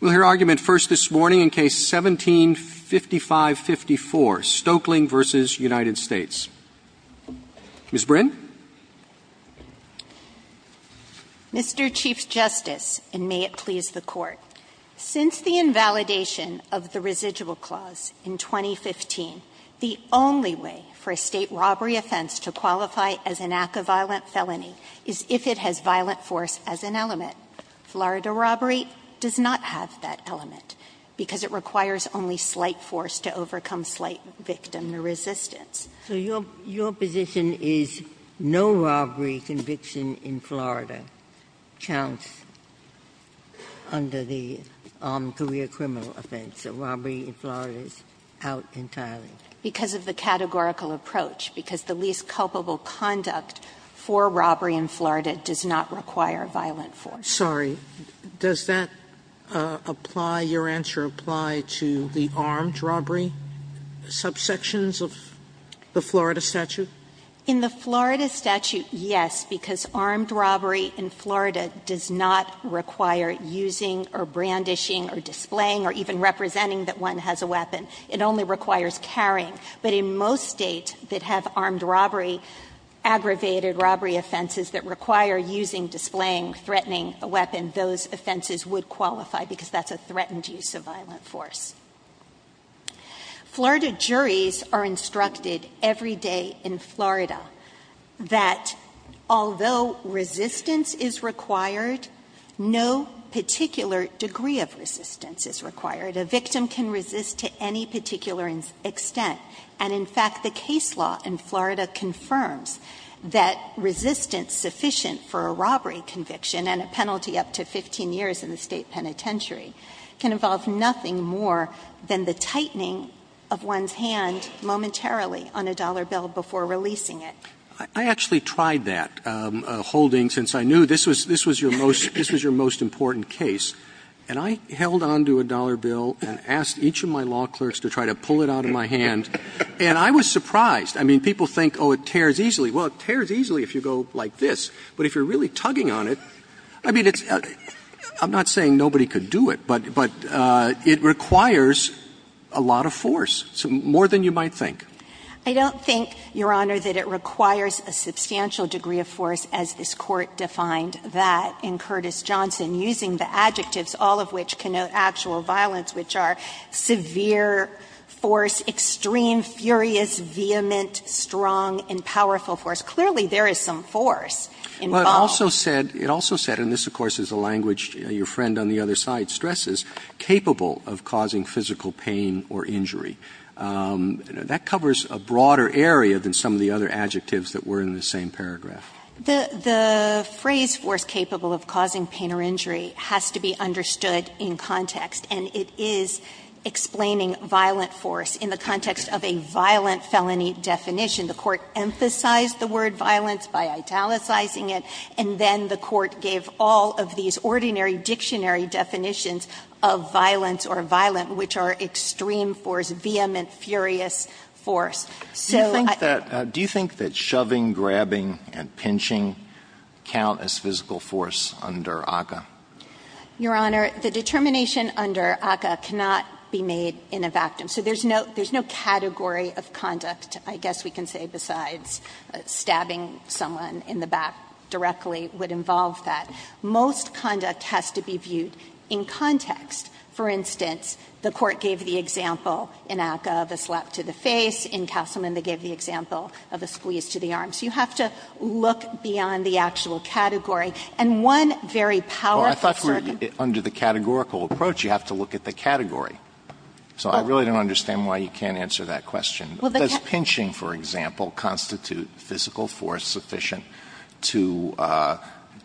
We'll hear argument first this morning in Case 17-5554, Stokeling v. United States. Ms. Brin? Mr. Chief Justice, and may it please the Court, since the invalidation of the residual clause in 2015, the only way for a State robbery offense to qualify as an act of violent felony is if it has violent force as an element. Florida robbery does not have that element, because it requires only slight force to overcome slight victim or resistance. So your position is no robbery conviction in Florida counts under the armed career criminal offense, so robbery in Florida is out entirely? Because of the categorical approach, because the least culpable conduct for robbery in Florida does not require violent force. Sotomayor, does that apply, your answer apply to the armed robbery subsections of the Florida statute? In the Florida statute, yes, because armed robbery in Florida does not require using or brandishing or displaying or even representing that one has a weapon. It only requires carrying. But in most States that have armed robbery, aggravated robbery offenses that require using, displaying, threatening a weapon, those offenses would qualify, because that's a threatened use of violent force. Florida juries are instructed every day in Florida that although resistance is required, no particular degree of resistance is required. A victim can resist to any particular extent. And in fact, the case law in Florida confirms that resistance sufficient for a robbery conviction and a penalty up to 15 years in the State penitentiary can involve nothing more than the tightening of one's hand momentarily on a dollar bill before releasing it. I actually tried that holding, since I knew this was your most important case. And I held on to a dollar bill and asked each of my law clerks to try to pull it out of my hand. And I was surprised. I mean, people think, oh, it tears easily. Well, it tears easily if you go like this. But if you're really tugging on it, I mean, it's – I'm not saying nobody could do it, but it requires a lot of force, more than you might think. I don't think, Your Honor, that it requires a substantial degree of force, as this all of which connote actual violence, which are severe force, extreme, furious, vehement, strong, and powerful force. Clearly, there is some force involved. Roberts. It also said, and this, of course, is a language your friend on the other side stresses, capable of causing physical pain or injury. That covers a broader area than some of the other adjectives that were in the same paragraph. The phrase force capable of causing pain or injury has to be understood in context, and it is explaining violent force in the context of a violent felony definition. The Court emphasized the word violence by italicizing it, and then the Court gave all of these ordinary dictionary definitions of violence or violent, which are extreme force, vehement, furious force. So I think that's it. Alito do you think that shoving, grabbing, and pinching count as physical force under ACCA? Your Honor, the determination under ACCA cannot be made in a vactum. So there's no category of conduct, I guess we can say, besides stabbing someone in the back directly would involve that. Most conduct has to be viewed in context. For instance, the Court gave the example in ACCA of a slap to the face. In Castleman, they gave the example of a squeeze to the arm. So you have to look beyond the actual category. And one very powerful circuit. Alito under the categorical approach, you have to look at the category. So I really don't understand why you can't answer that question. Does pinching, for example, constitute physical force sufficient to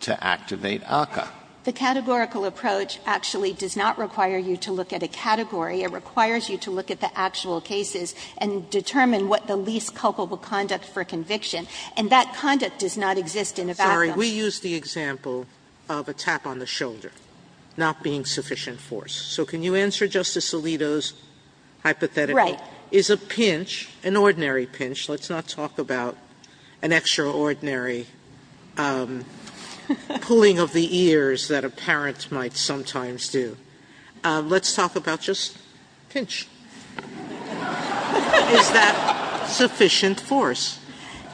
activate ACCA? The categorical approach actually does not require you to look at a category. It requires you to look at the actual cases and determine what the least culpable conduct for conviction. And that conduct does not exist in a vactum. Sotomayor, we used the example of a tap on the shoulder not being sufficient force. So can you answer Justice Alito's hypothetical? Right. Is a pinch, an ordinary pinch, let's not talk about an extraordinary pulling of the ears that a parent might sometimes do, let's talk about just pinch. Is that sufficient force?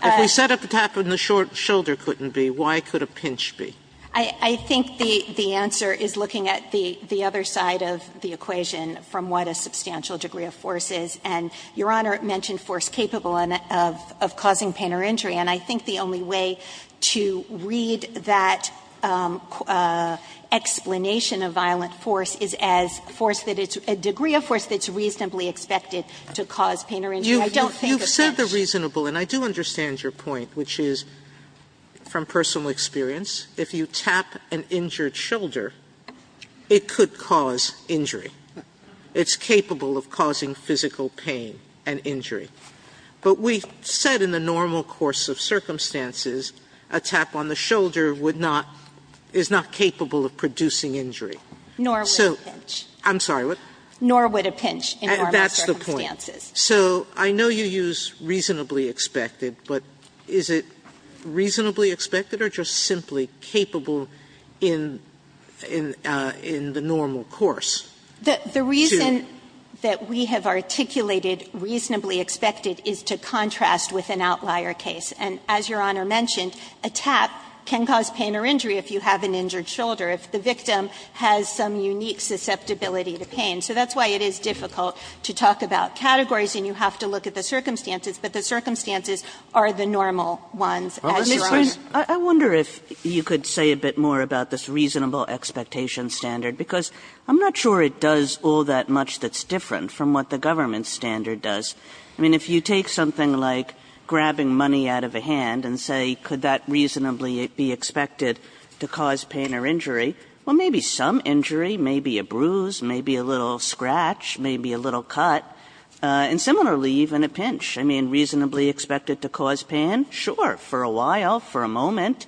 If we set up a tap and the shoulder couldn't be, why could a pinch be? I think the answer is looking at the other side of the equation from what a substantial degree of force is. And I think the only way to read that explanation of violent force is as force that it's a degree of force that's reasonably expected to cause pain or injury. I don't think a pinch. You've said the reasonable, and I do understand your point, which is from personal experience, if you tap an injured shoulder, it could cause injury. It's capable of causing physical pain and injury. But we've said in the normal course of circumstances, a tap on the shoulder would not, is not capable of producing injury. So. Sotomayor, I'm sorry, what? Nor would a pinch in normal circumstances. That's the point. So I know you use reasonably expected, but is it reasonably expected or just simply capable in the normal course? The reason that we have articulated reasonably expected is to contrast with an outlier case. And as Your Honor mentioned, a tap can cause pain or injury if you have an injured shoulder, if the victim has some unique susceptibility to pain. So that's why it is difficult to talk about categories and you have to look at the circumstances, but the circumstances are the normal ones as Your Honor. Kagan. Kagan. I wonder if you could say a bit more about this reasonable expectation standard, because I'm not sure it does all that much that's different from what the government standard does. I mean, if you take something like grabbing money out of a hand and say, could that reasonably be expected to cause pain or injury, well, maybe some injury, maybe a bruise, maybe a little scratch, maybe a little cut, and similarly, even a pinch. I mean, reasonably expected to cause pain, sure, for a while, for a moment.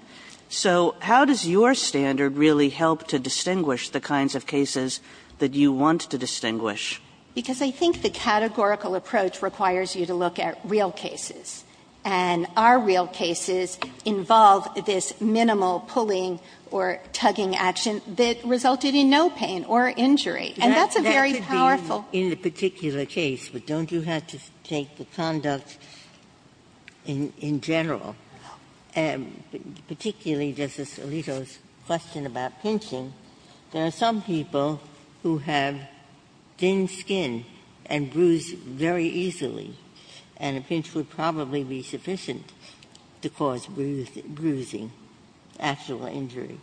So how does your standard really help to distinguish the kinds of cases that you want to distinguish? Because I think the categorical approach requires you to look at real cases, and our real cases involve this minimal pulling or tugging action that resulted in no pain or injury, and that's a very powerful. That could be in the particular case, but don't you have to take the conduct in general? And particularly Justice Alito's question about pinching, there are some people who have thin skin and bruise very easily, and a pinch would probably be sufficient to cause bruising, actual injury.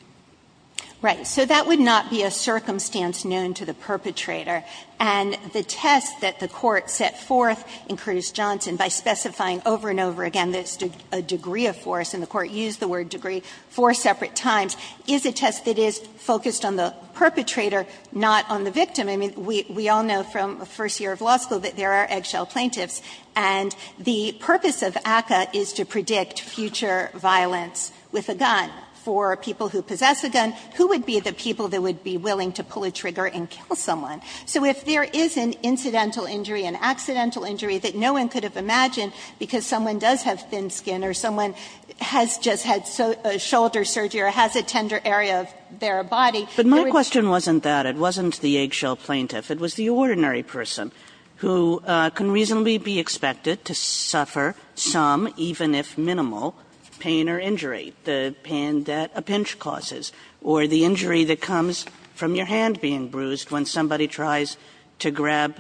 Right. So that would not be a circumstance known to the perpetrator. And the test that the Court set forth in Curtis Johnson by specifying over and over again this degree of force, and the Court used the word degree four separate times, is a test that is focused on the perpetrator, not on the victim. I mean, we all know from first year of law school that there are eggshell plaintiffs, and the purpose of ACCA is to predict future violence with a gun. For people who possess a gun, who would be the people that would be willing to pull a trigger and kill someone? So if there is an incidental injury, an accidental injury that no one could have been the cause of, meaning that someone does have thin skin, or someone has just had a shoulder surgery or has a tender area of their body. Kagan But my question wasn't that. It wasn't the eggshell plaintiff. It was the ordinary person who can reasonably be expected to suffer some, even if minimal, pain or injury, the pain that a pinch causes, or the injury that comes from your hand being bruised when somebody tries to grab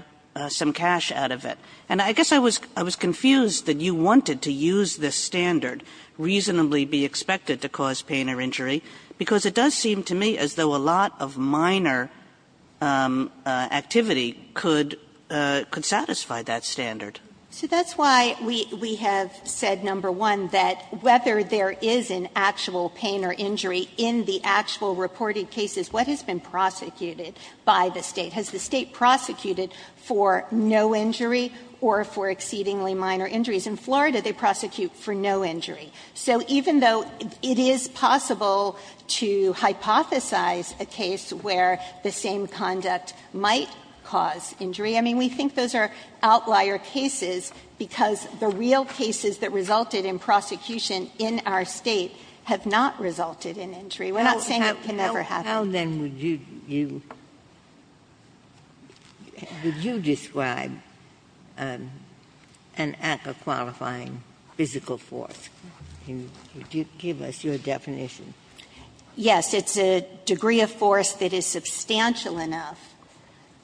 some cash out of it. And I guess I was confused that you wanted to use this standard, reasonably be expected to cause pain or injury, because it does seem to me as though a lot of minor activity could satisfy that standard. So that's why we have said, number one, that whether there is an actual pain or injury in the actual reported cases, what has been prosecuted by the State? Has the State prosecuted for no injury or for exceedingly minor injuries? In Florida, they prosecute for no injury. So even though it is possible to hypothesize a case where the same conduct might cause injury, I mean, we think those are outlier cases, because the real cases that resulted in prosecution in our State have not resulted in injury. We're not saying it can never happen. Ginsburg-Miller How then would you describe an act of qualifying physical force? Could you give us your definition? Yes. It's a degree of force that is substantial enough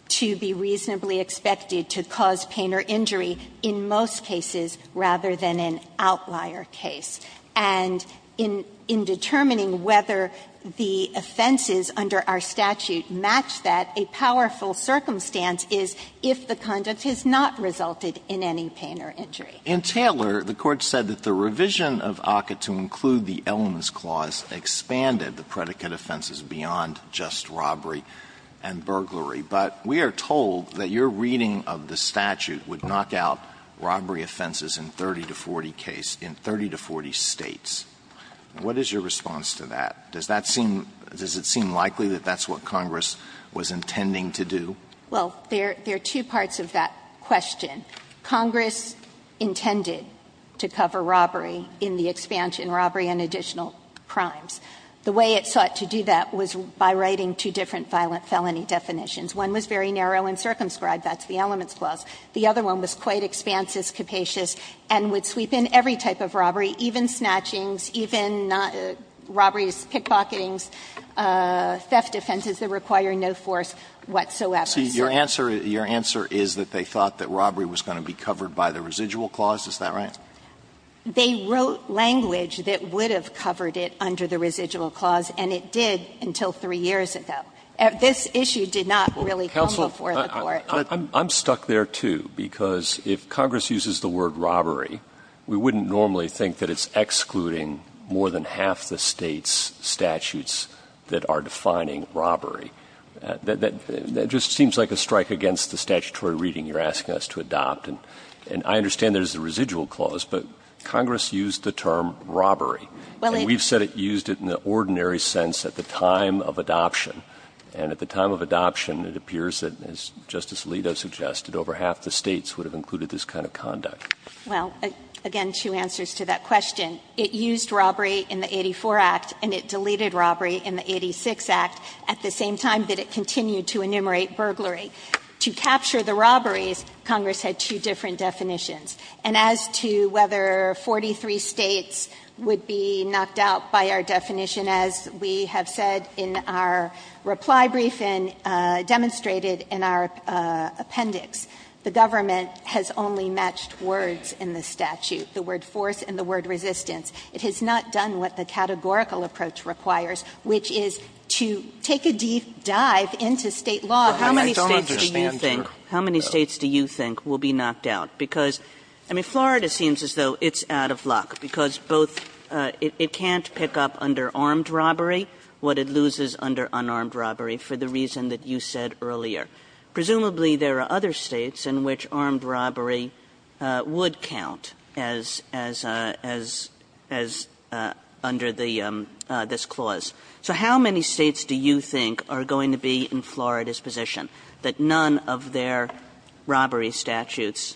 to be reasonably expected to cause pain or injury in most cases rather than an outlier case. And in determining whether the offenses under our statute match that, a powerful circumstance is if the conduct has not resulted in any pain or injury. Alitoson In Taylor, the Court said that the revision of ACCA to include the elements clause expanded the predicate offenses beyond just robbery and burglary. But we are told that your reading of the statute would knock out robbery offenses in 30 to 40 case in 30 to 40 States. What is your response to that? Does that seem does it seem likely that that's what Congress was intending to do? Well, there are two parts of that question. Congress intended to cover robbery in the expansion, robbery and additional crimes. The way it sought to do that was by writing two different violent felony definitions. One was very narrow and circumscribed, that's the elements clause. The other one was quite expansive, capacious, and would sweep in every type of robbery, even snatchings, even robberies, pickpocketing, theft offenses that require no force whatsoever. So your answer, your answer is that they thought that robbery was going to be covered by the residual clause, is that right? They wrote language that would have covered it under the residual clause, and it did until three years ago. This issue did not really come before the Court. I'm stuck there, too, because if Congress uses the word robbery, we wouldn't normally think that it's excluding more than half the State's statutes that are defining robbery. That just seems like a strike against the statutory reading you're asking us to adopt. And I understand there's a residual clause, but Congress used the term robbery. And we've said it used it in the ordinary sense at the time of adoption. And at the time of adoption, it appears that, as Justice Alito suggested, over half the States would have included this kind of conduct. Well, again, two answers to that question. It used robbery in the 84 Act, and it deleted robbery in the 86 Act at the same time that it continued to enumerate burglary. To capture the robberies, Congress had two different definitions. And as to whether 43 States would be knocked out by our definition, as we have said in our reply briefing, demonstrated in our appendix, the government has only matched words in the statute, the word force and the word resistance. It has not done what the categorical approach requires, which is to take a deep dive into State law. How many States do you think will be knocked out? Because, I mean, Florida seems as though it's out of luck, because both it can't pick up under armed robbery, what it loses under unarmed robbery, for the reason that you said earlier. Presumably, there are other States in which armed robbery would count as under this clause. So how many States do you think are going to be in Florida's position that none of their robbery statutes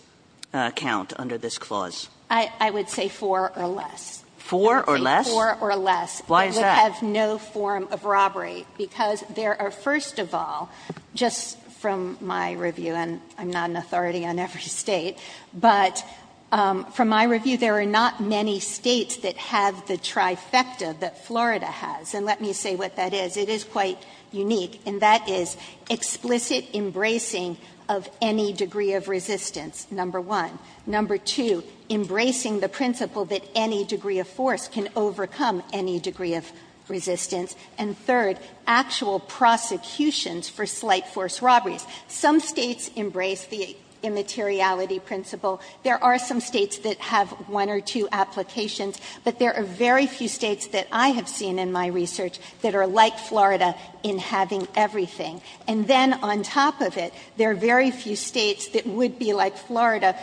count under this clause? I would say four or less. Four or less? Four or less. Why is that? It would have no form of robbery, because there are, first of all, just from my review and I'm not an authority on every State, but from my review, there are not many States that have the trifecta that Florida has. And let me say what that is. It is quite unique, and that is explicit embracing of any degree of resistance, number one. Number two, embracing the principle that any degree of force can overcome any degree of resistance. And third, actual prosecutions for slight force robberies. Some States embrace the immateriality principle. There are some States that have one or two applications, but there are very few States that I have seen in my research that are like Florida in having everything. And then on top of it, there are very few States that would be like Florida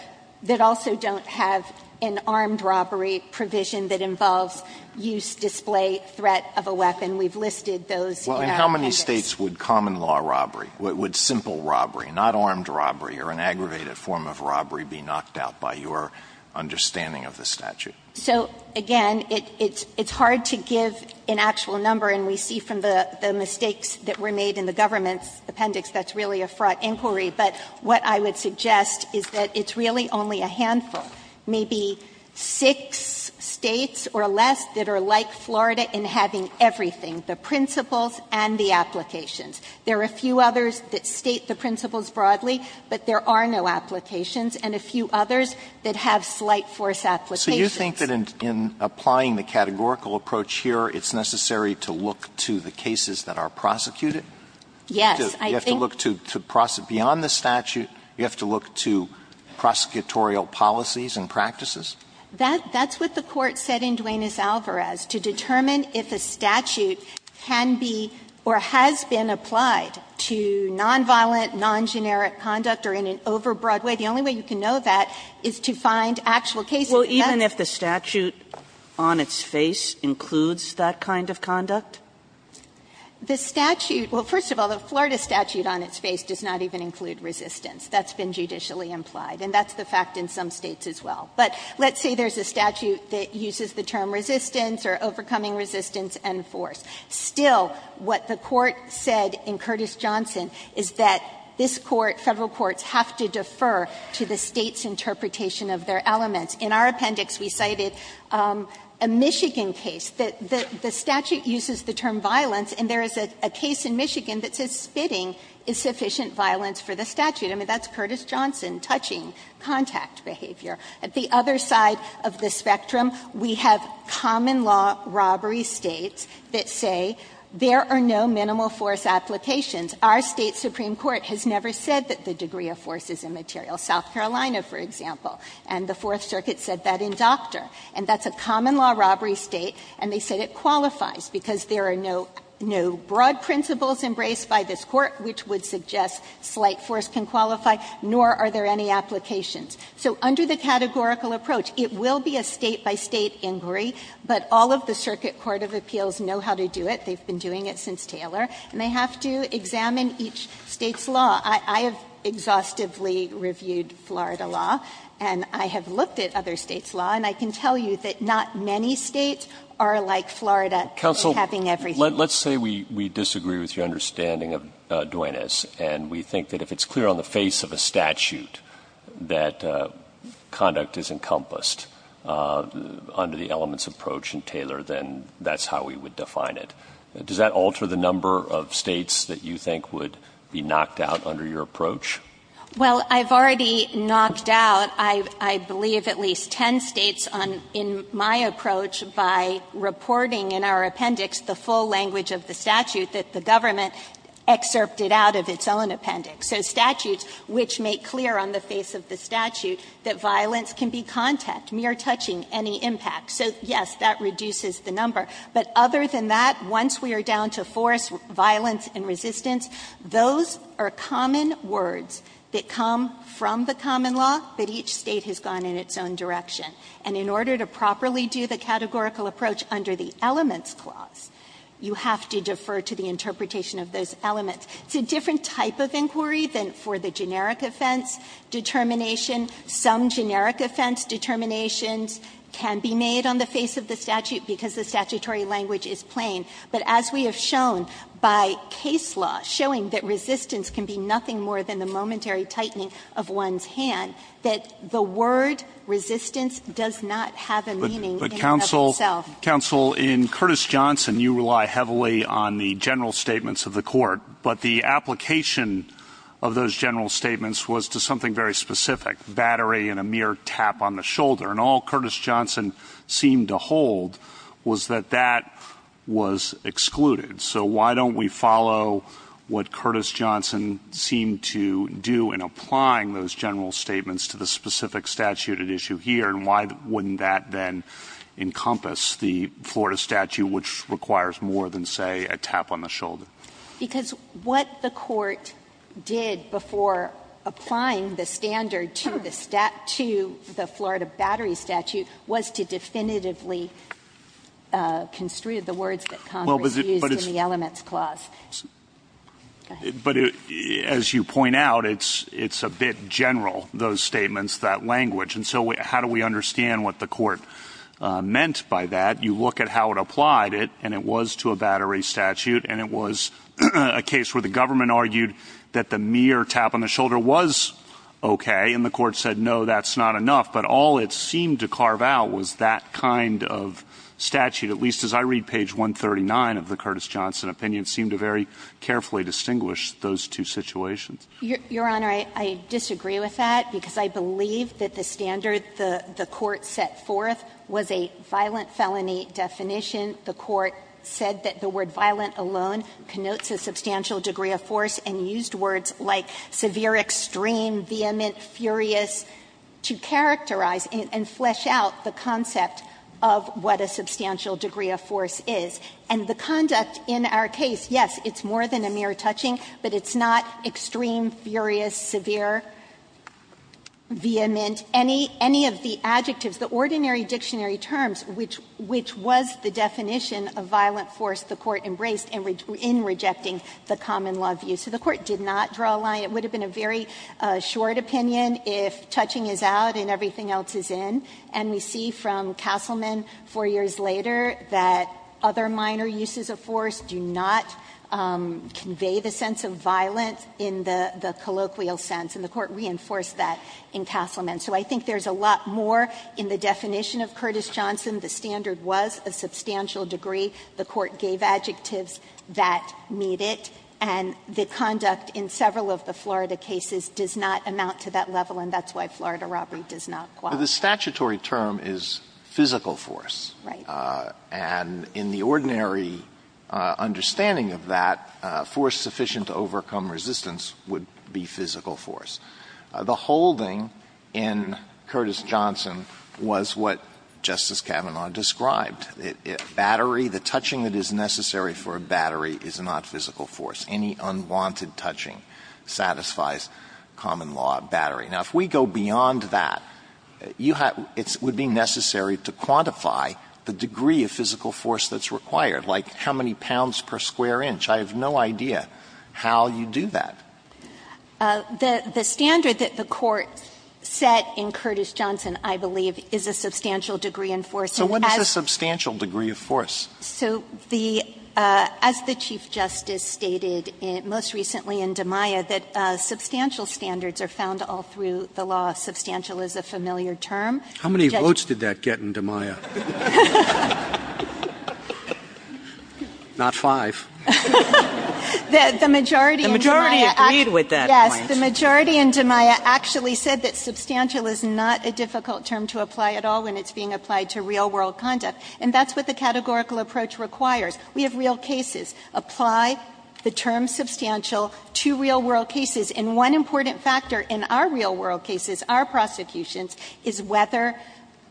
that also don't have an armed robbery provision that involves use, display, threat of a weapon. We've listed those in our case. Alitoson How many States would common law robbery, would simple robbery, not armed robbery or an aggravated form of robbery be knocked out by your understanding of the statute? So, again, it's hard to give an actual number, and we see from the mistakes that were made in the government's appendix that's really a fraught inquiry, but what I would suggest is that it's really only a handful, maybe six States or less that are like Florida in having everything, the principles and the applications. There are a few others that state the principles broadly, but there are no applications, and a few others that have slight force applications. Alitoson So you think that in applying the categorical approach here, it's necessary to look to the cases that are prosecuted? You have to look to beyond the statute? You have to look to prosecutorial policies and practices? That's what the Court said in Duenas-Alvarez, to determine if a statute can be or has been applied to nonviolent, non-generic conduct or in an overbroad way. The only way you can know that is to find actual cases. Well, even if the statute on its face includes that kind of conduct? Alitoson The statute – well, first of all, the Florida statute on its face does not even include resistance. That's been judicially implied, and that's the fact in some States as well. But let's say there's a statute that uses the term resistance or overcoming resistance and force. Still, what the Court said in Curtis-Johnson is that this Court, Federal courts have to defer to the State's interpretation of their elements. In our appendix, we cited a Michigan case. The statute uses the term violence, and there is a case in Michigan that says spitting is sufficient violence for the statute. I mean, that's Curtis-Johnson, touching, contact behavior. At the other side of the spectrum, we have common law robbery States that say there are no minimal force applications. Our State supreme court has never said that the degree of force is immaterial. South Carolina, for example, and the Fourth Circuit said that in Doctor. And that's a common law robbery State, and they said it qualifies, because there are no broad principles embraced by this Court which would suggest slight force can qualify, nor are there any applications. So under the categorical approach, it will be a State-by-State inquiry, but all of the circuit court of appeals know how to do it. They've been doing it since Taylor, and they have to examine each State's law. I have exhaustively reviewed Florida law, and I have looked at other States' law, and I can tell you that not many States are like Florida in having everything. Roberts, let's say we disagree with your understanding of Duenas, and we think that if it's clear on the face of a statute that conduct is encompassed under the elements approach in Taylor, then that's how we would define it. Does that alter the number of States that you think would be knocked out under your approach? Well, I've already knocked out, I believe, at least 10 States on my approach by reporting in our appendix the full language of the statute that the government excerpted out of its own appendix. So statutes which make clear on the face of the statute that violence can be contact, mere touching, any impact. So, yes, that reduces the number. But other than that, once we are down to force, violence, and resistance, those are common words that come from the common law, but each State has gone in its own direction. And in order to properly do the categorical approach under the elements clause, you have to defer to the interpretation of those elements. It's a different type of inquiry than for the generic offense determination. Some generic offense determinations can be made on the face of the statute because the statutory language is plain. But as we have shown by case law, showing that resistance can be nothing more than the momentary tightening of one's hand, that the word resistance does not have a meaning in and of itself. But, Counsel, in Curtis-Johnson, you rely heavily on the general statements of the Court, but the application of those general statements was to something very specific, battery and a mere tap on the shoulder. And all Curtis-Johnson seemed to hold was that that was excluded. So why don't we follow what Curtis-Johnson seemed to do in applying those general statements to the specific statute at issue here, and why wouldn't that then encompass the Florida statute, which requires more than, say, a tap on the shoulder? Because what the Court did before applying the standard to the Florida battery statute was to definitively construe the words that Congress used in the elements clause. Go ahead. But as you point out, it's a bit general, those statements, that language. And so how do we understand what the Court meant by that? You look at how it applied it, and it was to a battery statute, and it was a case where the government argued that the mere tap on the shoulder was okay, and the Court said, no, that's not enough. But all it seemed to carve out was that kind of statute, at least as I read page 139 of the Curtis-Johnson opinion, seemed to very carefully distinguish those two situations. Your Honor, I disagree with that, because I believe that the standard the Court set forth was a violent felony definition. The Court said that the word violent alone connotes a substantial degree of force, and used words like severe, extreme, vehement, furious to characterize and flesh out the concept of what a substantial degree of force is. And the conduct in our case, yes, it's more than a mere touching, but it's not extreme, furious, severe, vehement, any of the adjectives, the ordinary dictionary terms, which was the definition of violent force the Court embraced in rejecting the common law view. So the Court did not draw a line. It would have been a very short opinion if touching is out and everything else is in. And we see from Castleman 4 years later that other minor uses of force do not convey the sense of violent in the colloquial sense, and the Court reinforced that in Castleman. So I think there's a lot more in the definition of Curtis-Johnson. The standard was a substantial degree. The Court gave adjectives that meet it. And the conduct in several of the Florida cases does not amount to that level, and that's why Florida robbery does not qualify. Alito, the statutory term is physical force. Right. And in the ordinary understanding of that, force sufficient to overcome resistance would be physical force. The holding in Curtis-Johnson was what Justice Kavanaugh described. Battery, the touching that is necessary for a battery is not physical force. Any unwanted touching satisfies common law battery. Now, if we go beyond that, you have to be necessary to quantify the degree of physical force that's required, like how many pounds per square inch. I have no idea how you do that. The standard that the Court set in Curtis-Johnson, I believe, is a substantial degree in force. So what is a substantial degree of force? So the as the Chief Justice stated most recently in DiMaia, that substantial standards are found all through the law. Substantial is a familiar term. How many votes did that get in DiMaia? Not five. The majority in DiMaia actually said that substantial is not a difficult term to apply at all when it's being applied to real-world conduct. And that's what the categorical approach requires. We have real cases. Apply the term substantial to real-world cases. And one important factor in our real-world cases, our prosecutions, is whether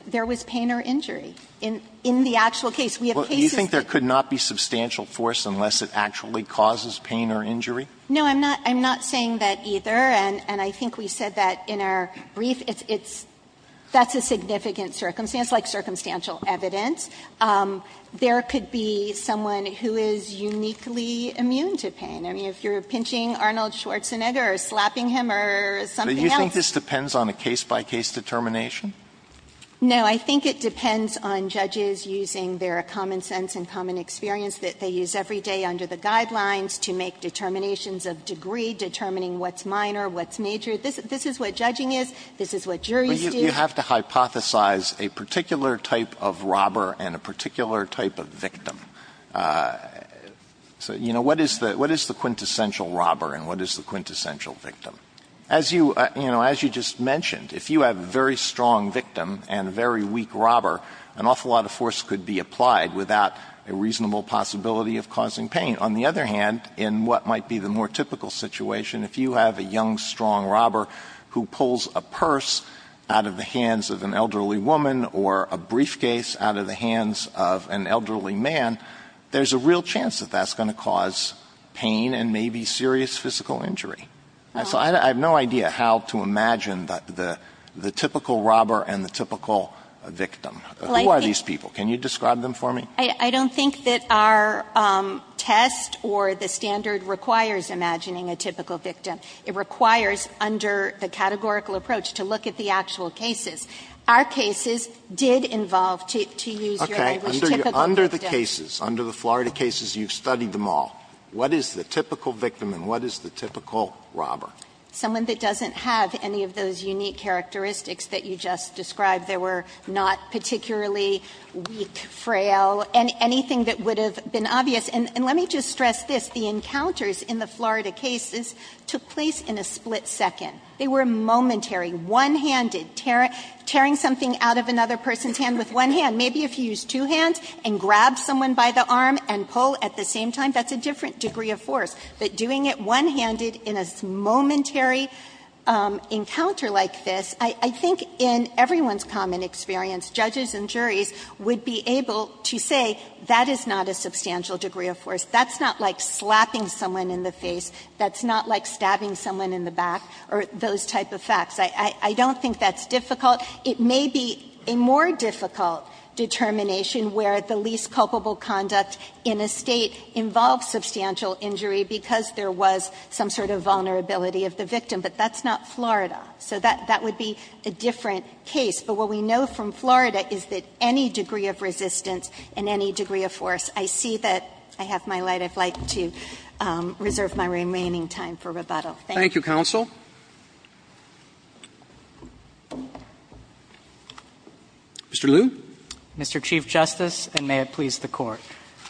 there was pain or injury. In the actual case, we have cases that don't have pain or injury. Alito, do you think there could not be substantial force unless it actually causes pain or injury? No, I'm not saying that either, and I think we said that in our brief. It's that's a significant circumstance, like circumstantial evidence. There could be someone who is uniquely immune to pain. I mean, if you're pinching Arnold Schwarzenegger or slapping him or something else. Alito, do you think this depends on a case-by-case determination? No. I think it depends on judges using their common sense and common experience that they use every day under the guidelines to make determinations of degree, determining what's minor, what's major. This is what judging is, this is what juries do. But you have to hypothesize a particular type of robber and a particular type of victim. So, you know, what is the quintessential robber and what is the quintessential victim? As you, you know, as you just mentioned, if you have a very strong victim and a very weak robber, an awful lot of force could be applied without a reasonable possibility of causing pain. On the other hand, in what might be the more typical situation, if you have a young, strong robber who pulls a purse out of the hands of an elderly woman or a briefcase out of the hands of an elderly man, there's a real chance that that's going to cause pain and maybe serious physical injury. So I have no idea how to imagine the typical robber and the typical victim. Who are these people? Can you describe them for me? I don't think that our test or the standard requires imagining a typical victim. It requires, under the categorical approach, to look at the actual cases. Our cases did involve, to use your language, typical victims. Alito, under the cases, under the Florida cases, you've studied them all. What is the typical victim and what is the typical robber? Someone that doesn't have any of those unique characteristics that you just described. They were not particularly weak, frail, and anything that would have been obvious. And let me just stress this. The encounters in the Florida cases took place in a split second. They were momentary, one-handed, tearing something out of another person's hand with one hand. Maybe if you use two hands and grab someone by the arm and pull at the same time, that's a different degree of force. But doing it one-handed in a momentary encounter like this, I think in everyone's common experience, judges and That's not like slapping someone in the face. That's not like stabbing someone in the back, or those type of facts. I don't think that's difficult. It may be a more difficult determination where the least culpable conduct in a State involves substantial injury because there was some sort of vulnerability of the victim. But that's not Florida. So that would be a different case. But what we know from Florida is that any degree of resistance and any degree of force, I see that I have my light. I'd like to reserve my remaining time for rebuttal. Thank you. Roberts. Roberts. Thank you, counsel. Mr. Liu. Mr. Chief Justice, and may it please the Court.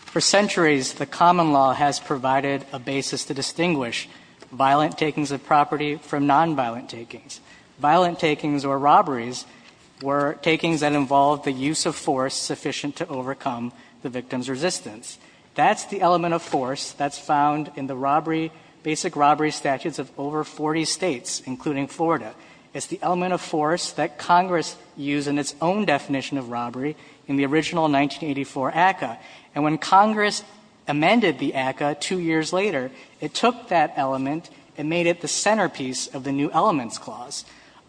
For centuries, the common law has provided a basis to distinguish violent takings of property from nonviolent takings. Violent takings or robberies were takings that involved the use of force sufficient to overcome the victim's resistance. That's the element of force that's found in the basic robbery statutes of over 40 states, including Florida. It's the element of force that Congress used in its own definition of robbery in the original 1984 ACCA. And when Congress amended the ACCA two years later, it took that element and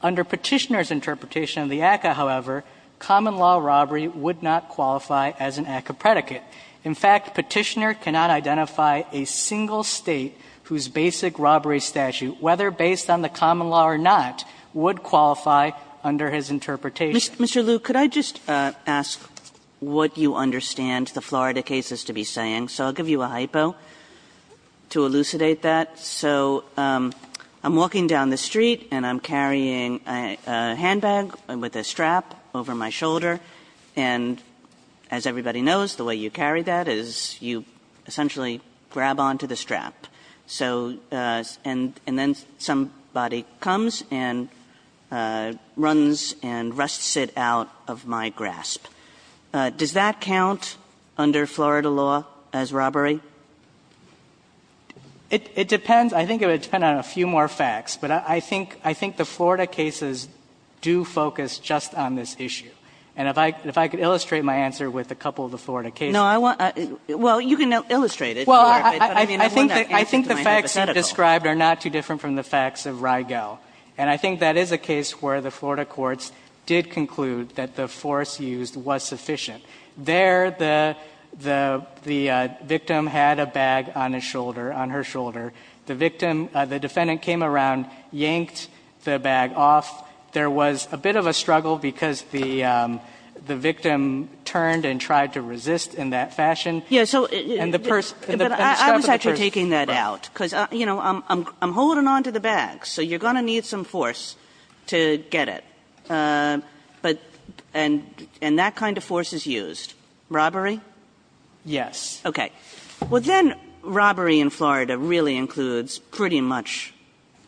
Under Petitioner's interpretation of the ACCA, however, common law robbery would not qualify as an ACCA predicate. In fact, Petitioner cannot identify a single state whose basic robbery statute, whether based on the common law or not, would qualify under his interpretation. Mr. Liu, could I just ask what you understand the Florida case is to be saying? So I'll give you a hypo to elucidate that. So I'm walking down the street and I'm carrying a handbag with a strap over my shoulder. And as everybody knows, the way you carry that is you essentially grab onto the strap. So and then somebody comes and runs and rusts it out of my grasp. Does that count under Florida law as robbery? It depends. I think it would depend on a few more facts. But I think the Florida cases do focus just on this issue. And if I could illustrate my answer with a couple of the Florida cases. No, I want to – well, you can illustrate it. Well, I think the facts you described are not too different from the facts of Rigel. And I think that is a case where the Florida courts did conclude that the force used was sufficient. There the victim had a bag on his shoulder, on her shoulder. The victim, the defendant came around, yanked the bag off. There was a bit of a struggle because the victim turned and tried to resist in that fashion. And the person, and the strap of the purse. But I was actually taking that out because, you know, I'm holding on to the bag. So you're going to need some force to get it. But – and that kind of force is used. Robbery? Yes. Okay. Well, then robbery in Florida really includes pretty much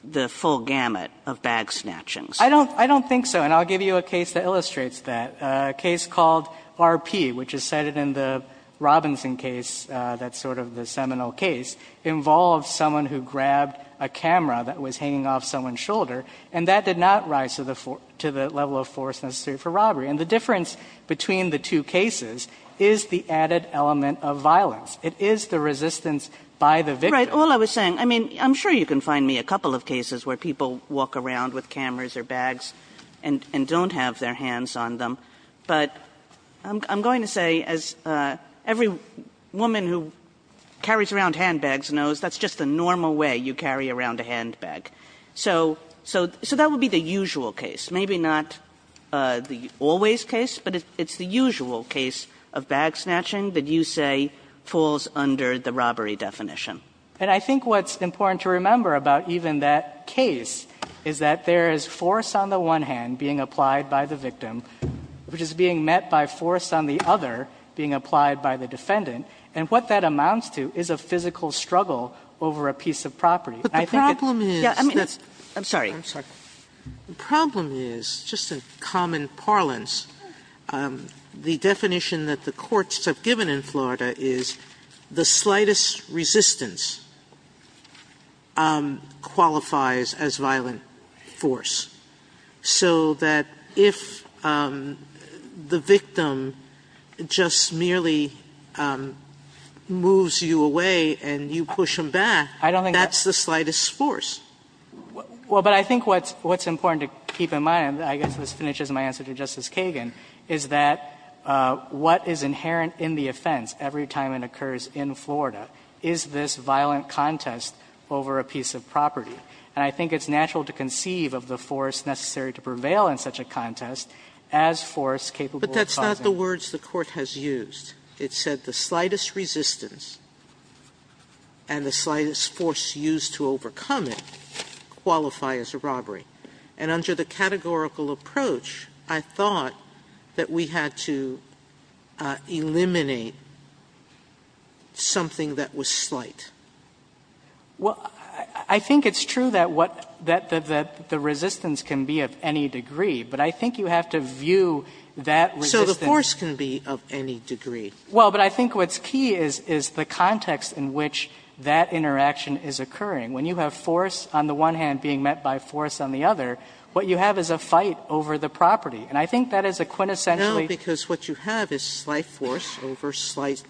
the full gamut of bag snatching. I don't think so. And I'll give you a case that illustrates that. A case called RP, which is cited in the Robinson case, that's sort of the seminal case, involves someone who grabbed a camera that was hanging off someone's shoulder. And that did not rise to the level of force necessary for robbery. And the difference between the two cases is the added element of violence. It is the resistance by the victim. Right. All I was saying, I mean, I'm sure you can find me a couple of cases where people walk around with cameras or bags and don't have their hands on them. But I'm going to say, as every woman who carries around handbags knows, that's just the normal way you carry around a handbag. So that would be the usual case. Maybe not the always case, but it's the usual case of bag snatching that you say falls under the robbery definition. And I think what's important to remember about even that case is that there is force on the one hand being applied by the victim, which is being met by force on the other being applied by the defendant. And what that amounts to is a physical struggle over a piece of property. I think it's- But the problem is- Yeah, I mean, it's- I'm sorry. I'm sorry. The problem is, just in common parlance, the definition that the courts have given in Florida is the slightest resistance qualifies as violent force. So that if the victim just merely moves you away and you push him back- I don't think that's- I don't think that's the slightest force. Well, but I think what's important to keep in mind, and I guess this finishes my answer to Justice Kagan, is that what is inherent in the offense every time it occurs in Florida is this violent contest over a piece of property. And I think it's natural to conceive of the force necessary to prevail in such a contest as force capable of causing- But that's not the words the Court has used. It said the slightest resistance and the slightest force used to overcome it qualify as a robbery. And under the categorical approach, I thought that we had to eliminate something that was slight. Well, I think it's true that what the resistance can be of any degree, but I think you have to view that resistance- The force can be of any degree. Well, but I think what's key is the context in which that interaction is occurring. When you have force on the one hand being met by force on the other, what you have is a fight over the property. And I think that is a quintessentially- No, because what you have is slight force over slight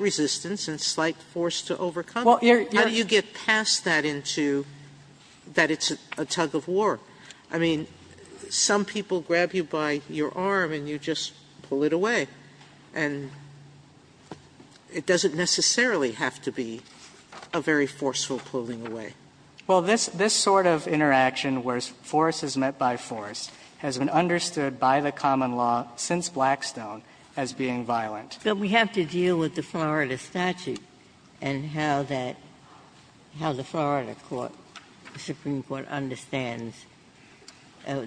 resistance and slight force to overcome it. How do you get past that into that it's a tug of war? I mean, some people grab you by your arm and you just pull it away. And it doesn't necessarily have to be a very forceful pulling away. Well, this sort of interaction where force is met by force has been understood by the common law since Blackstone as being violent. But we have to deal with the Florida statute and how that the Florida court, the Supreme Court has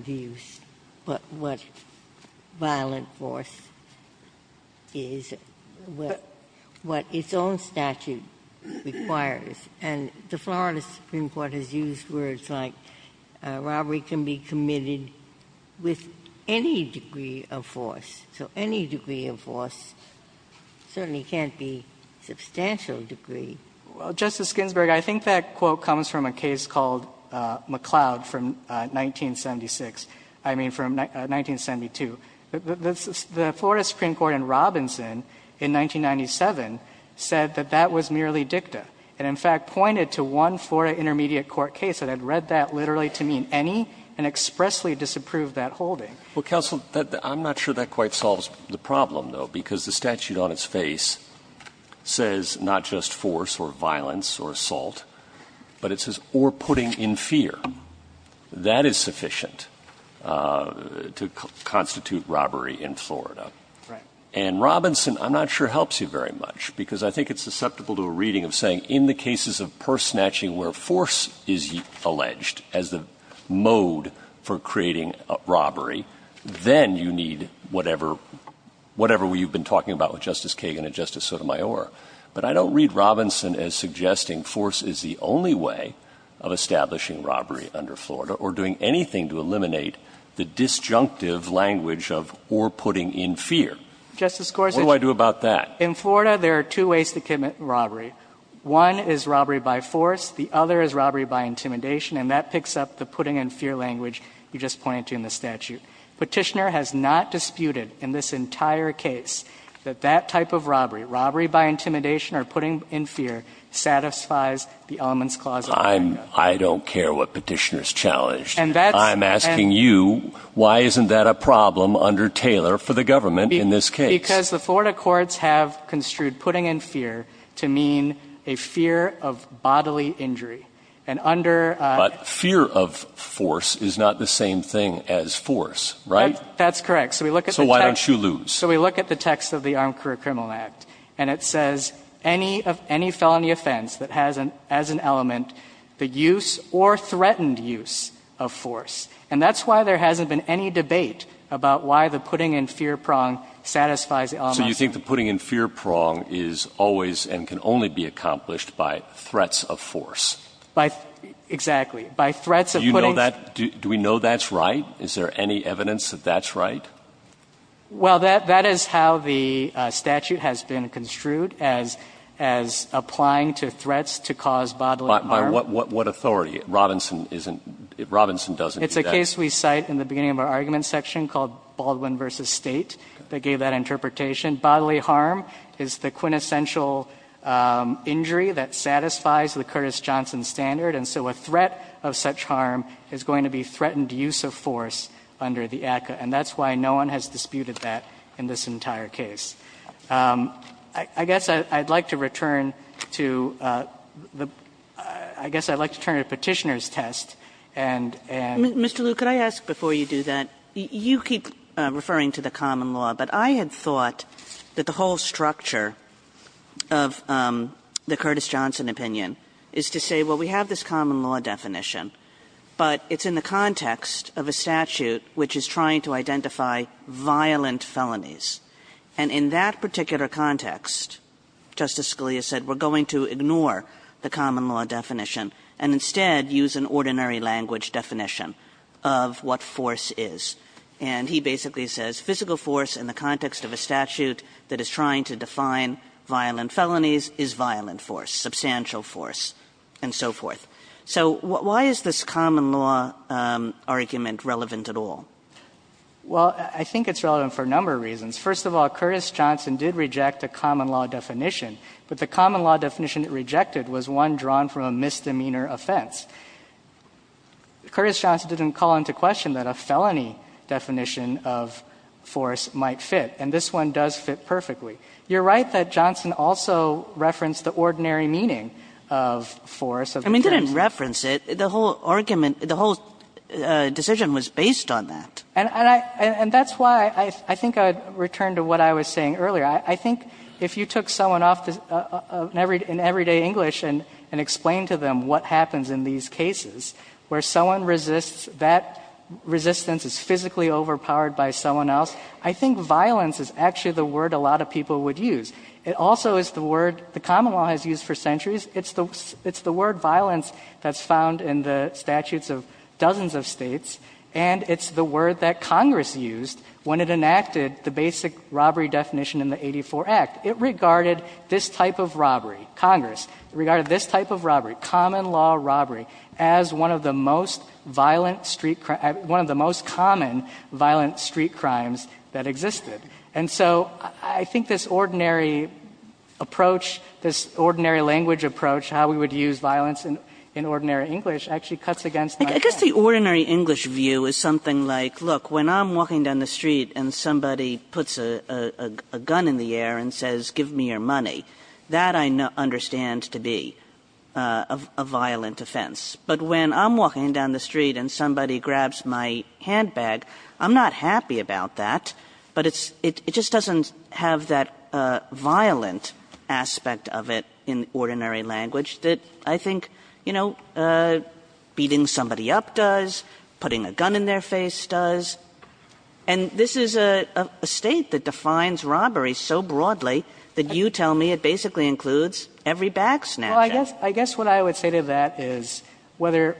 used, but what violent force is, what its own statute requires. And the Florida Supreme Court has used words like, a robbery can be committed with any degree of force, so any degree of force certainly can't be substantial degree. Well, Justice Ginsburg, I think that quote comes from a case called McLeod, from 1976, I mean from 1972. The Florida Supreme Court in Robinson in 1997 said that that was merely dicta. It in fact pointed to one Florida intermediate court case that had read that literally to mean any and expressly disapproved that holding. Well, counsel, I'm not sure that quite solves the problem, though, because the statute on its face says not just force or violence or assault, but it says or putting in fear. That is sufficient to constitute robbery in Florida. And Robinson, I'm not sure, helps you very much, because I think it's susceptible to a reading of saying in the cases of purse snatching where force is alleged as the mode for creating a robbery, then you need whatever you've been talking about with Justice Kagan and Justice Sotomayor. But I don't read Robinson as suggesting force is the only way of establishing robbery under Florida or doing anything to eliminate the disjunctive language of or putting in fear. What do I do about that? In Florida, there are two ways to commit robbery. One is robbery by force. The other is robbery by intimidation. And that picks up the putting in fear language you just pointed to in the statute. Robbery by intimidation or putting in fear satisfies the Elements Clause of America. I don't care what Petitioner's challenged. I'm asking you, why isn't that a problem under Taylor for the government in this case? Because the Florida courts have construed putting in fear to mean a fear of bodily injury. And under the law, fear of force is not the same thing as force, right? That's correct. So we look at the text. So why don't you lose? So we look at the text of the Armed Career Criminal Act, and it says, any felony offense that has as an element the use or threatened use of force. And that's why there hasn't been any debate about why the putting in fear prong satisfies the Elements Clause. So you think the putting in fear prong is always and can only be accomplished by threats of force? By threats of force, exactly. By threats of putting in fear. Do we know that's right? Is there any evidence that that's right? Well, that is how the statute has been construed, as applying to threats to cause bodily harm. By what authority? Robinson isn't – Robinson doesn't do that. It's a case we cite in the beginning of our argument section called Baldwin v. State that gave that interpretation. Bodily harm is the quintessential injury that satisfies the Curtis Johnson standard. And so a threat of such harm is going to be threatened use of force under the ACCA. And that's why no one has disputed that in this entire case. I guess I'd like to return to the – I guess I'd like to turn to Petitioner's test and – and – Kagan. Mr. Liu, could I ask before you do that, you keep referring to the common law, but I had thought that the whole structure of the Curtis Johnson opinion is to say, well, we have this common law definition, but it's in the context of a statute which is trying to identify violent felonies. And in that particular context, Justice Scalia said, we're going to ignore the common law definition and instead use an ordinary language definition of what force is. And he basically says physical force in the context of a statute that is trying to define violent felonies is violent force, substantial force, and so forth. So why is this common law argument relevant at all? Well, I think it's relevant for a number of reasons. First of all, Curtis Johnson did reject a common law definition, but the common law definition it rejected was one drawn from a misdemeanor offense. Curtis Johnson didn't call into question that a felony definition of force might fit, and this one does fit perfectly. You're right that Johnson also referenced the ordinary meaning of force. I mean, he didn't reference it. The whole argument, the whole decision was based on that. And that's why I think I'd return to what I was saying earlier. I think if you took someone off in everyday English and explained to them what happens in these cases where someone resists, that resistance is physically overpowered by someone else, I think violence is actually the word a lot of people would use. It also is the word the common law has used for centuries. It's the word violence that's found in the statutes of dozens of states, and it's the word that Congress used when it enacted the basic robbery definition in the 84 Act. It regarded this type of robbery, Congress, regarded this type of robbery, common law robbery, as one of the most common violent street crimes that existed. And so I think this ordinary approach, this ordinary language approach, how we would use violence in ordinary English actually cuts against my point. I guess the ordinary English view is something like, look, when I'm walking down the street and somebody puts a gun in the air and says, give me your money, that I understand to be a violent offense. But when I'm walking down the street and somebody grabs my handbag, I'm not happy about that, but it's, it just doesn't have that violent aspect of it in ordinary language that I think, you know, beating somebody up does, putting a gun in their face does, and this is a State that defines robbery so broadly that you tell me it basically includes every bag snatcher. Well, I guess what I would say to that is whether,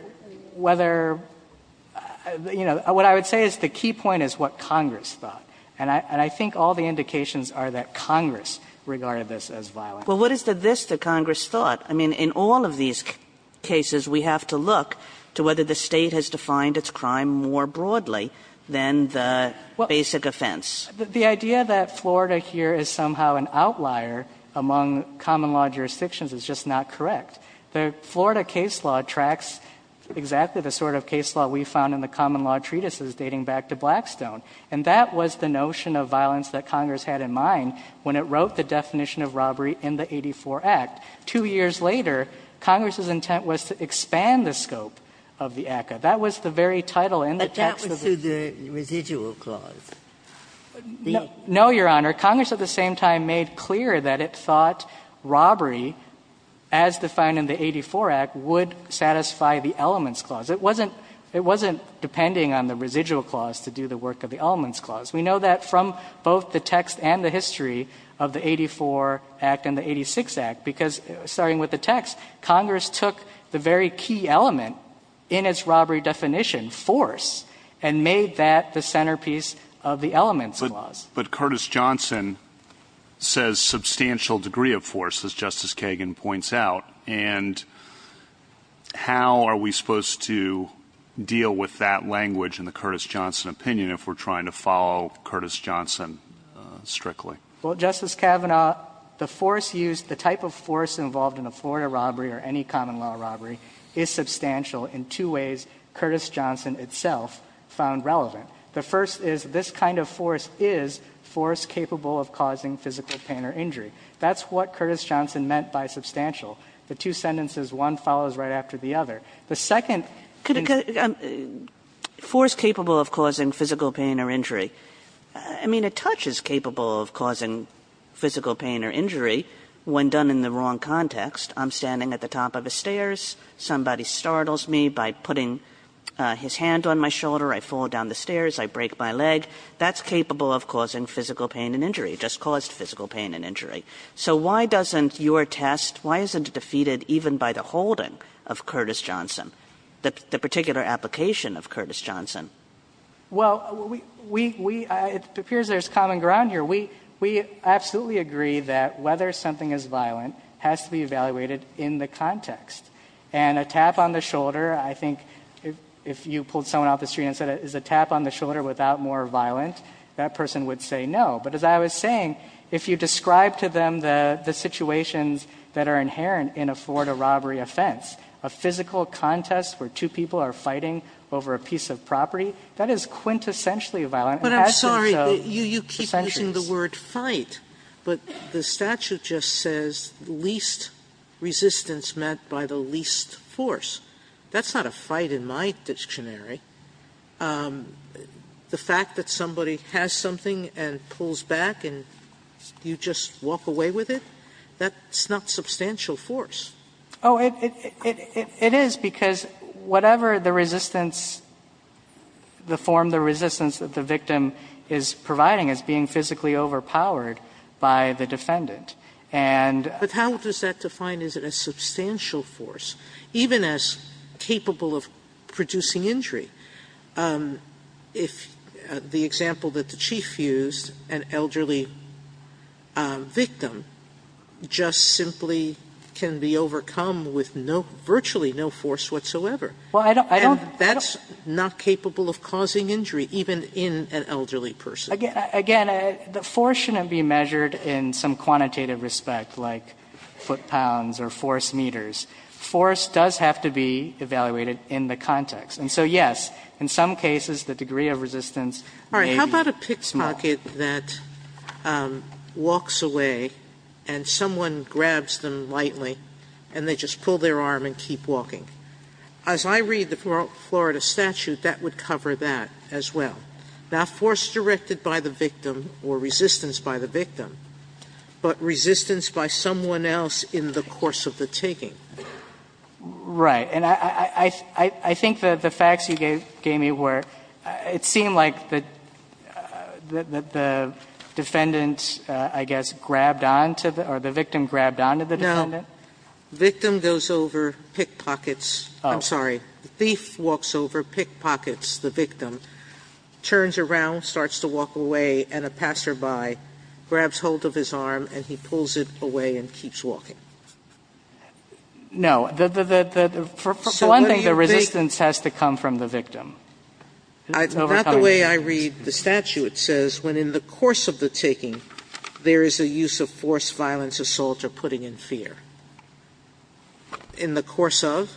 you know, what I would say is the Congress thought, and I think all the indications are that Congress regarded this as violent. Kagan. Well, what is the this that Congress thought? I mean, in all of these cases, we have to look to whether the State has defined its crime more broadly than the basic offense. The idea that Florida here is somehow an outlier among common law jurisdictions is just not correct. The Florida case law tracks exactly the sort of case law we found in the common law treatises dating back to Blackstone, and that was the notion of violence that Congress had in mind when it wrote the definition of robbery in the 84 Act. Two years later, Congress's intent was to expand the scope of the ACCA. That was the very title in the text of the ACCA. But that was through the residual clause. No, Your Honor. Congress at the same time made clear that it thought robbery, as defined in the 84 Act, would satisfy the elements clause. It wasn't depending on the residual clause to do the work of the elements clause. We know that from both the text and the history of the 84 Act and the 86 Act, because starting with the text, Congress took the very key element in its robbery definition, force, and made that the centerpiece of the elements clause. But Curtis Johnson says substantial degree of force, as Justice Kagan points out, and how are we supposed to deal with that language in the Curtis Johnson opinion if we're trying to follow Curtis Johnson strictly? Well, Justice Kavanaugh, the force used, the type of force involved in a Florida robbery or any common law robbery is substantial in two ways Curtis Johnson itself found relevant. The first is this kind of force is force capable of causing physical pain or injury. That's what Curtis Johnson meant by substantial. The two sentences, one follows right after the other. The second is the force capable of causing physical pain or injury. I mean, a touch is capable of causing physical pain or injury when done in the wrong context. I'm standing at the top of a stairs, somebody startles me by putting his hand on my shoulder, I fall down the stairs, I break my leg, that's capable of causing physical pain and injury, just caused physical pain and injury. So why doesn't your test, why isn't it defeated even by the holding of Curtis Johnson, the particular application of Curtis Johnson? Well, it appears there's common ground here. We absolutely agree that whether something is violent has to be evaluated in the context. And a tap on the shoulder, I think, if you pulled someone off the street and said is a tap on the shoulder without more violent, that person would say no. But as I was saying, if you describe to them the situations that are inherent in a Florida robbery offense, a physical contest where two people are fighting over a piece of property, that is quintessentially violent. And has been so for centuries. Sotomayor But I'm sorry, you keep using the word fight. But the statute just says least resistance meant by the least force. That's not a fight in my dictionary. The fact that somebody has something and pulls back and you just walk away with it, that's not substantial force. Oh, it is, because whatever the resistance, the form, the resistance that the victim is providing is being physically overpowered by the defendant. And But how does that define, is it a substantial force, even as capable of producing injury, if the example that the chief used, an elderly victim, just simply can be overcome with virtually no force whatsoever. And that's not capable of causing injury, even in an elderly person. Again, the force shouldn't be measured in some quantitative respect, like foot-pounds or force-meters. Force does have to be evaluated in the context. And so, yes, in some cases, the degree of resistance may be small. Sotomayor All right. How about a pickpocket that walks away and someone grabs them lightly and they just pull their arm and keep walking? As I read the Florida statute, that would cover that as well. Not force directed by the victim or resistance by the victim, but resistance by someone else in the course of the taking. Right. And I think that the facts you gave me were, it seemed like the defendant, I guess, grabbed on to the, or the victim grabbed on to the defendant. Sotomayor No, victim goes over, pickpockets, I'm sorry, the thief walks over, pickpockets the victim, turns around, starts to walk away, and a passerby grabs hold of his arm and he pulls it away and keeps walking. No. For one thing, the resistance has to come from the victim. Sotomayor It's not the way I read the statute. It says, when in the course of the taking, there is a use of force, violence, assault, or putting in fear. In the course of?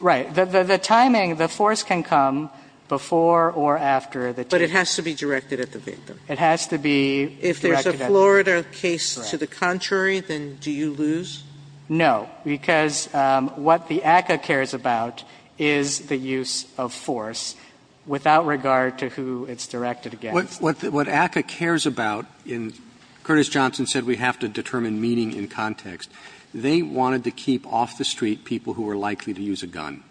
Right. The timing, the force can come before or after the taking. Sotomayor But it has to be directed at the victim. If there's a Florida case to the contrary, then do you lose? No, because what the ACCA cares about is the use of force without regard to who it's directed against. Roberts What ACCA cares about, and Curtis Johnson said we have to determine meaning in context, they wanted to keep off the street people who were likely to use a gun.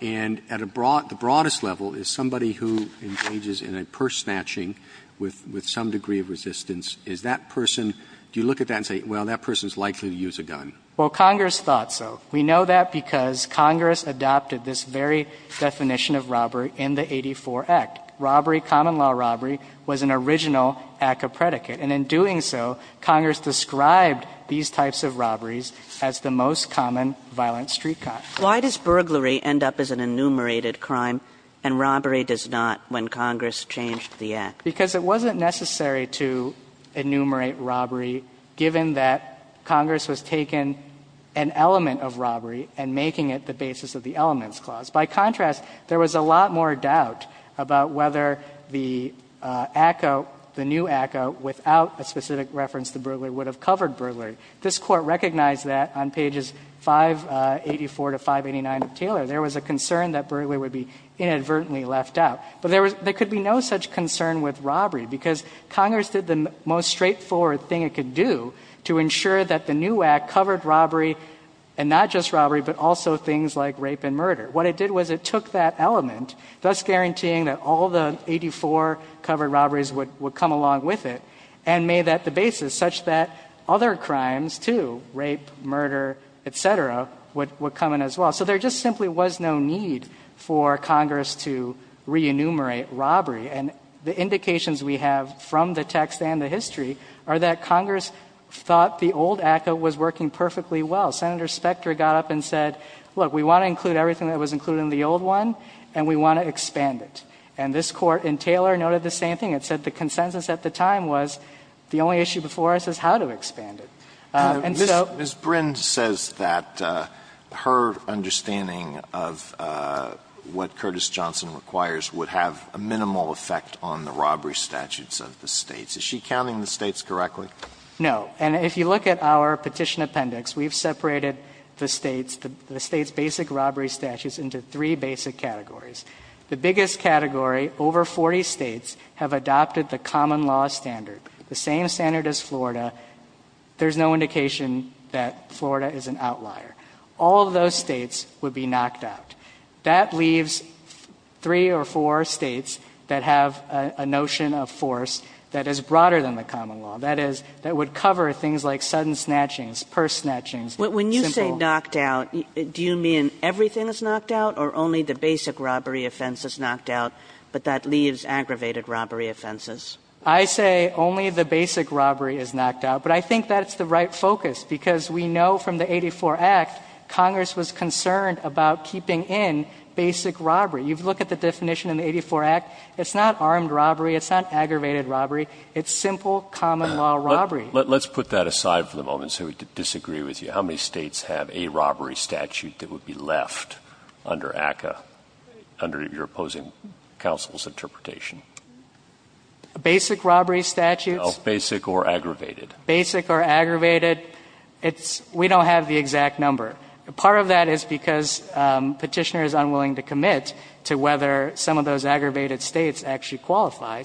And at a broad, the broadest level is somebody who engages in a purse snatching with some degree of resistance, is that person, do you look at that and say, well, that person is likely to use a gun? Sotomayor Well, Congress thought so. We know that because Congress adopted this very definition of robbery in the 84 Act. Robbery, common law robbery, was an original ACCA predicate. And in doing so, Congress described these types of robberies as the most common violent street crime. Kagan Why does burglary end up as an enumerated crime and robbery does not when Congress changed the Act? Because it wasn't necessary to enumerate robbery, given that Congress was taking an element of robbery and making it the basis of the Elements Clause. By contrast, there was a lot more doubt about whether the ACCA, the new ACCA, without a specific reference to burglary, would have covered burglary. This Court recognized that on pages 584 to 589 of Taylor, there was a concern that burglary would be inadvertently left out. But there could be no such concern with robbery, because Congress did the most straightforward thing it could do to ensure that the new Act covered robbery, and not just robbery, but also things like rape and murder. What it did was it took that element, thus guaranteeing that all the 84 covered robberies would come along with it, and made that the basis such that other crimes too, rape, murder, et cetera, would come in as well. So there just simply was no need for Congress to re-enumerate robbery. And the indications we have from the text and the history are that Congress thought the old ACCA was working perfectly well. Senator Specter got up and said, look, we want to include everything that was included in the old one, and we want to expand it. And this Court in Taylor noted the same thing. It said the consensus at the time was the only issue before us is how to expand it. And so the only issue before us is how to expand it. Alito, Ms. Brind says that her understanding of what Curtis Johnson requires would have a minimal effect on the robbery statutes of the States. Is she counting the States correctly? No. And if you look at our Petition Appendix, we've separated the States, the States' basic robbery statutes into three basic categories. The biggest category, over 40 States have adopted the common law standard, the same standard as Florida. There's no indication that Florida is an outlier. All of those States would be knocked out. That leaves three or four States that have a notion of force that is broader than the common law, that is, that would cover things like sudden snatchings, purse snatchings. When you say knocked out, do you mean everything is knocked out or only the basic robbery offense is knocked out, but that leaves aggravated robbery offenses? I say only the basic robbery is knocked out, but I think that's the right focus, because we know from the 84 Act, Congress was concerned about keeping in basic robbery. You look at the definition in the 84 Act, it's not armed robbery, it's not aggravated robbery, it's simple common law robbery. Let's put that aside for the moment so we can disagree with you. How many States have a robbery statute that would be left under ACCA, under your opposing counsel's interpretation? Basic robbery statutes? No, basic or aggravated. Basic or aggravated, it's we don't have the exact number. Part of that is because Petitioner is unwilling to commit to whether some of those aggravated States actually qualify.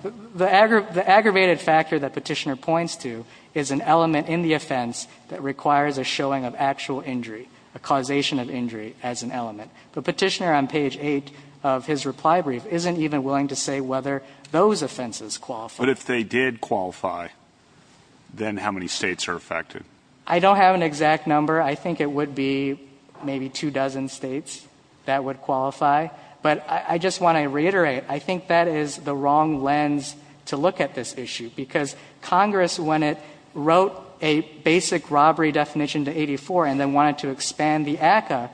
The aggravated factor that Petitioner points to is an element in the offense that requires a showing of actual injury, a causation of injury as an element. But Petitioner on page 8 of his reply brief isn't even willing to say whether those offenses qualify. But if they did qualify, then how many States are affected? I don't have an exact number. I think it would be maybe two dozen States that would qualify. But I just want to reiterate, I think that is the wrong lens to look at this issue, because Congress, when it wrote a basic robbery definition to 84 and then wanted to expand the ACCA,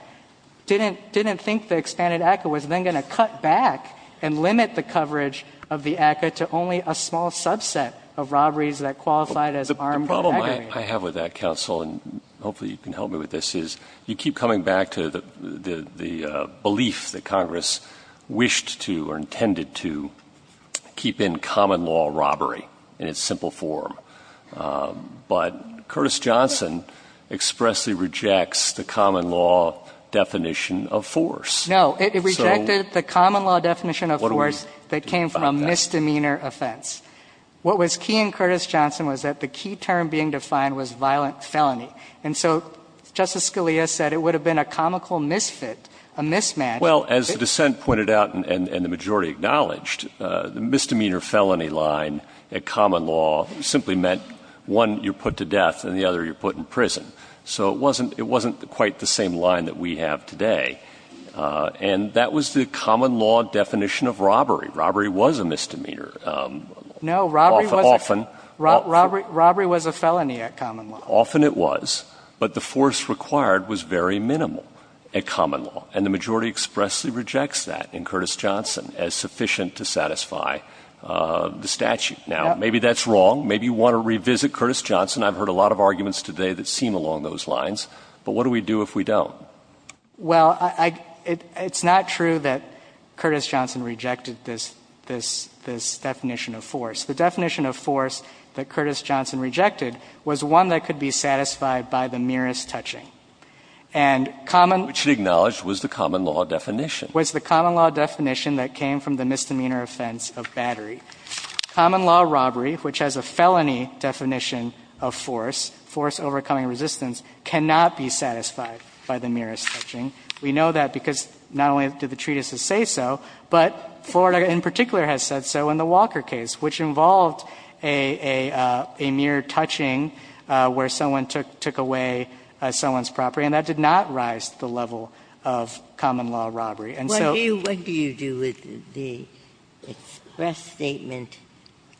didn't think the expanded ACCA was then going to cut back and limit the coverage of the ACCA to only a small subset of robberies that qualified as armed aggravated. The problem I have with that, counsel, and hopefully you can help me with this, is you keep coming back to the belief that Congress wished to or intended to keep in common law robbery in its simple form. But Curtis Johnson expressly rejects the common law definition of force. So what do we do about that? No. It rejected the common law definition of force that came from a misdemeanor offense. What was key in Curtis Johnson was that the key term being defined was violent felony. And so Justice Scalia said it would have been a comical misfit, a mismatch. Well, as the dissent pointed out and the majority acknowledged, the misdemeanor felony line at common law simply meant one, you're put to death, and the other, you're put in prison. So it wasn't quite the same line that we have today. And that was the common law definition of robbery. Robbery was a misdemeanor. No. Robbery was a felony at common law. Often it was. But the force required was very minimal at common law. And the majority expressly rejects that in Curtis Johnson as sufficient to satisfy the statute. Now, maybe that's wrong. Maybe you want to revisit Curtis Johnson. I've heard a lot of arguments today that seem along those lines. But what do we do if we don't? Well, I — it's not true that Curtis Johnson rejected this — this definition of force. The definition of force that Curtis Johnson rejected was one that could be satisfied by the merest touching. And common— Which it acknowledged was the common law definition. Was the common law definition that came from the misdemeanor offense of battery. Common law robbery, which has a felony definition of force, force overcoming resistance, cannot be satisfied by the merest touching. We know that because not only did the treatises say so, but Florida in particular has said so in the Walker case, which involved a — a mere touching where someone took — took away someone's property. And that did not rise to the level of common law robbery. And so — What do you — what do you do with the express statement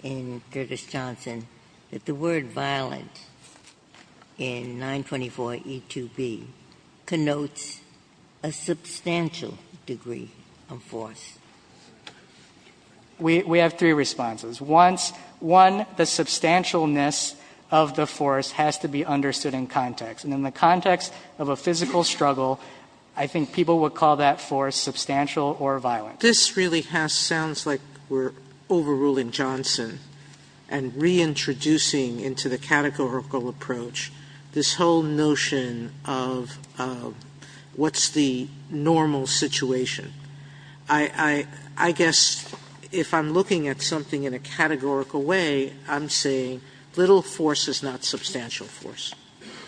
in Curtis Johnson that the word violent in 924E2B connotes a substantial degree of force? We — we have three responses. Once — one, the substantialness of the force has to be understood in context. And in the context of a physical struggle, I think people would call that force substantial or violent. Sotomayor This really has — sounds like we're overruling Johnson and reintroducing into the categorical approach this whole notion of what's the normal situation. I — I — I guess if I'm looking at something in a categorical way, I'm saying little force is not substantial force,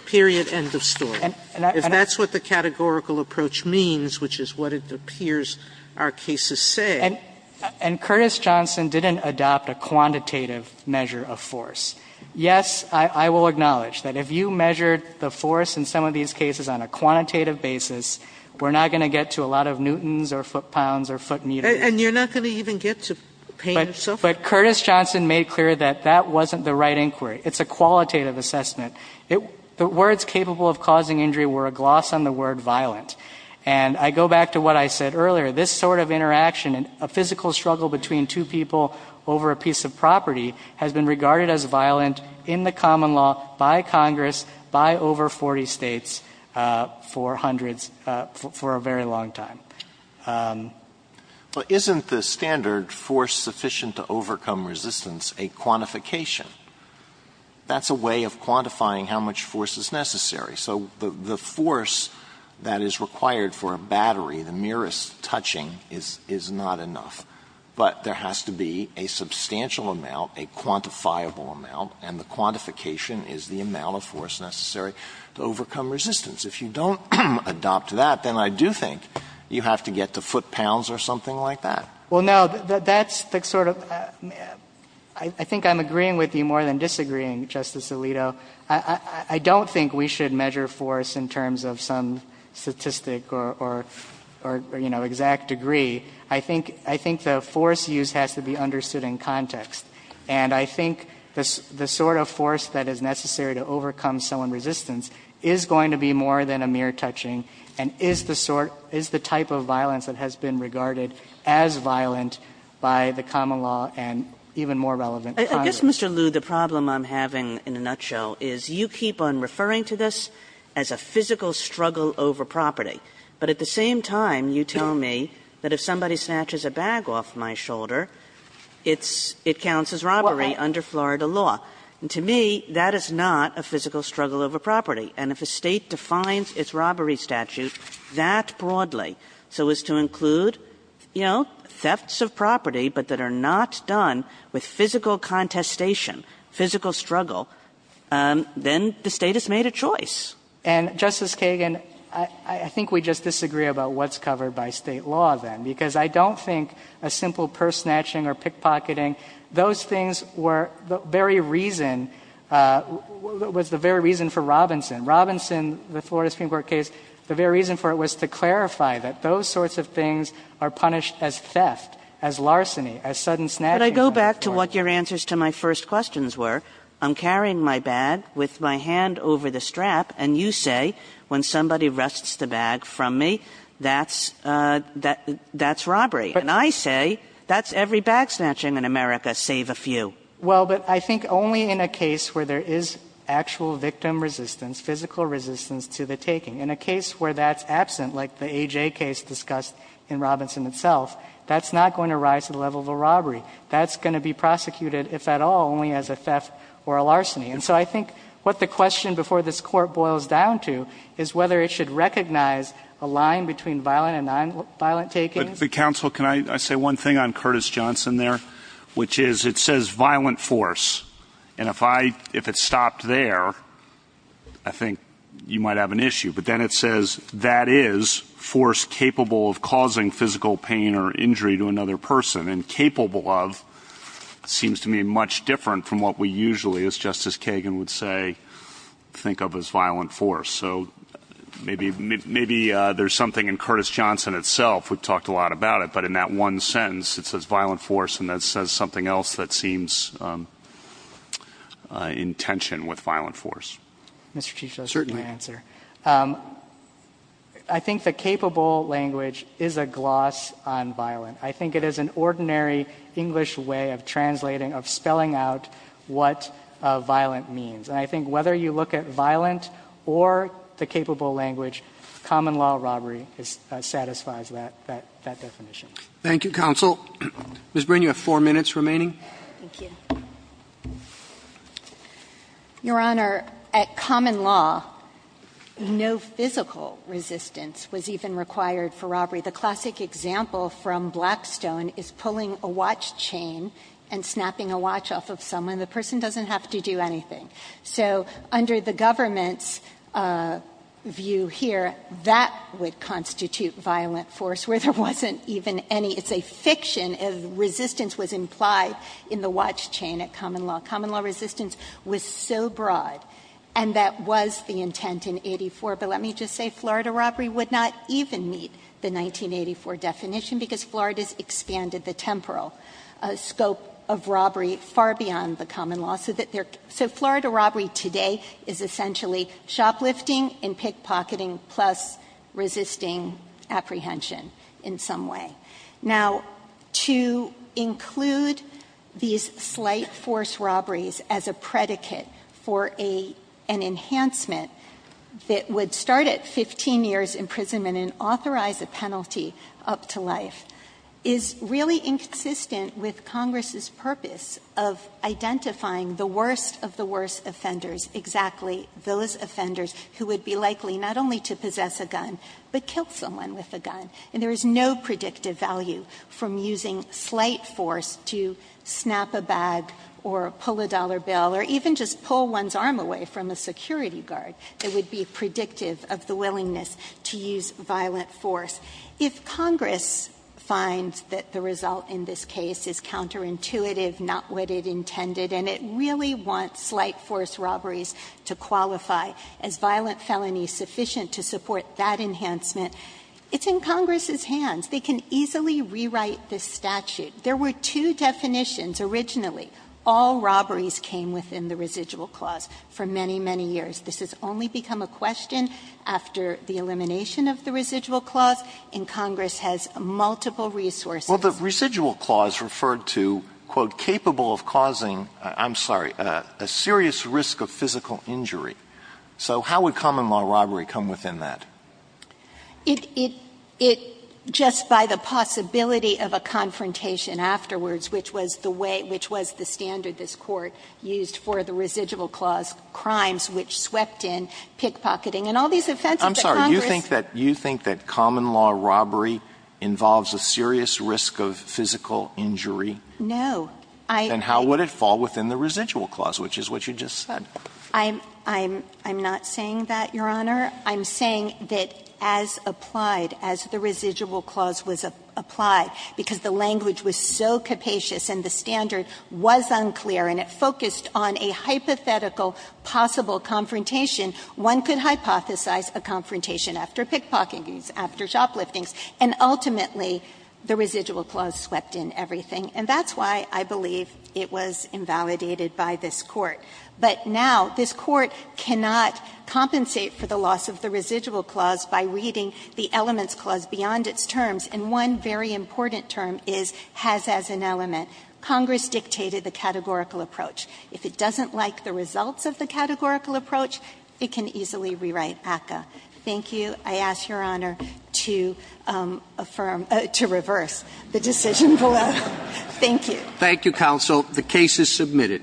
period. Sotomayor That's the end of the story. If that's what the categorical approach means, which is what it appears our cases say — Jaffer And — and Curtis Johnson didn't adopt a quantitative measure of force. Yes, I — I will acknowledge that if you measured the force in some of these cases on a quantitative basis, we're not going to get to a lot of newtons or foot-pounds or foot-meters. Sotomayor And you're not going to even get to pain yourself? Jaffer But Curtis Johnson made clear that that wasn't the right inquiry. It's a qualitative assessment. It — the words capable of causing injury were a gloss on the word violent. And I go back to what I said earlier. This sort of interaction, a physical struggle between two people over a piece of property has been regarded as violent in the common law by Congress, by over 40 States, for hundreds — for a very long time. Alito Isn't the standard force sufficient to overcome resistance a quantification? That's a way of quantifying how much force is necessary. So the force that is required for a battery, the merest touching, is — is not enough. But there has to be a substantial amount, a quantifiable amount, and the quantification is the amount of force necessary to overcome resistance. If you don't adopt that, then I do think you have to get to foot-pounds or something like that. Well, no, that's the sort of — I think I'm agreeing with you more than disagreeing, Justice Alito. I don't think we should measure force in terms of some statistic or — or, you know, exact degree. I think — I think the force used has to be understood in context. And I think the sort of force that is necessary to overcome someone's resistance is going to be more than a mere touching and is the sort — is the type of violence that has been regarded as violent by the common law and even more relevant Congress. I guess, Mr. Liu, the problem I'm having in a nutshell is you keep on referring to this as a physical struggle over property, but at the same time you tell me that if somebody snatches a bag off my shoulder, it's — it counts as robbery under Florida law. And to me, that is not a physical struggle over property. And if a State defines its robbery statute that broadly, so as to include, you know, thefts of property, but that are not done with physical contestation, physical struggle, then the State has made a choice. And, Justice Kagan, I think we just disagree about what's covered by State law then, because I don't think a simple purse snatching or pickpocketing, those things were the very reason — was the very reason for Robinson. Robinson, the Florida Supreme Court case, the very reason for it was to clarify that those sorts of things are punished as theft, as larceny, as sudden snatching. Kagan. But I go back to what your answers to my first questions were. I'm carrying my bag with my hand over the strap, and you say when somebody wrests the bag from me, that's — that's robbery. And I say that's every bag snatching in America, save a few. Well, but I think only in a case where there is actual victim resistance, physical resistance to the taking. In a case where that's absent, like the AJ case discussed in Robinson itself, that's not going to rise to the level of a robbery. That's going to be prosecuted, if at all, only as a theft or a larceny. And so I think what the question before this Court boils down to is whether it should recognize a line between violent and nonviolent takings. But, Counsel, can I say one thing on Curtis Johnson there? Which is, it says violent force. And if I — if it stopped there, I think you might have an issue. But then it says that is force capable of causing physical pain or injury to another person. And capable of seems to me much different from what we usually, as Justice Kagan would say, think of as violent force. So maybe — maybe there's something in Curtis Johnson itself. We've talked a lot about it. But in that one sentence, it says violent force. And that says something else that seems in tension with violent force. Mr. Chief Justice — Certainly. — your answer. I think the capable language is a gloss on violent. I think it is an ordinary English way of translating — of spelling out what violent means. And I think whether you look at violent or the capable language, common law robbery satisfies that definition. Thank you, Counsel. Ms. Brin, you have four minutes remaining. Thank you. Your Honor, at common law, no physical resistance was even required for robbery. The classic example from Blackstone is pulling a watch chain and snapping a watch off of someone. The person doesn't have to do anything. So under the government's view here, that would constitute violent force, where there wasn't even any — it's a fiction. Resistance was implied in the watch chain at common law. Common law resistance was so broad, and that was the intent in 84. But let me just say Florida robbery would not even meet the 1984 definition, because Florida's expanded the temporal scope of robbery far beyond the common law, so that they're — so Florida robbery today is essentially shoplifting and pickpocketing plus resisting apprehension in some way. Now, to include these slight force robberies as a predicate for an enhancement that would start at 15 years imprisonment and authorize a penalty up to life is really inconsistent with Congress's purpose of identifying the worst of the worst offenders, exactly those offenders who would be likely not only to possess a gun but kill someone with a gun. And there is no predictive value from using slight force to snap a bag or pull a dollar bill or even just pull one's arm away from a security guard that would be predictive of the willingness to use violent force. If Congress finds that the result in this case is counterintuitive, not what it intended, and it really wants slight force robberies to qualify as violent felonies sufficient to support that enhancement, it's in Congress's hands. They can easily rewrite this statute. There were two definitions originally. All robberies came within the residual clause for many, many years. This has only become a question after the elimination of the residual clause, and Congress has multiple resources. Alito, the residual clause referred to, quote, capable of causing, I'm sorry, a serious risk of physical injury. So how would common law robbery come within that? It just by the possibility of a confrontation afterwards, which was the way, which was the standard this Court used for the residual clause crimes, which swept in pickpocketing and all these offenses that Congress. I'm sorry. You think that common law robbery involves a serious risk of physical injury? No. Then how would it fall within the residual clause, which is what you just said? I'm not saying that, Your Honor. I'm saying that as applied, as the residual clause was applied, because the language was so capacious and the standard was unclear and it focused on a hypothetical possible confrontation, one could hypothesize a confrontation after pickpocketing, after shoplifting, and ultimately the residual clause swept in everything. And that's why I believe it was invalidated by this Court. But now this Court cannot compensate for the loss of the residual clause by reading the elements clause beyond its terms. And one very important term is has as an element. Congress dictated the categorical approach. If it doesn't like the results of the categorical approach, it can easily rewrite ACCA. Thank you. I ask Your Honor to affirm to reverse the decision below. Thank you. Thank you, counsel. The case is submitted.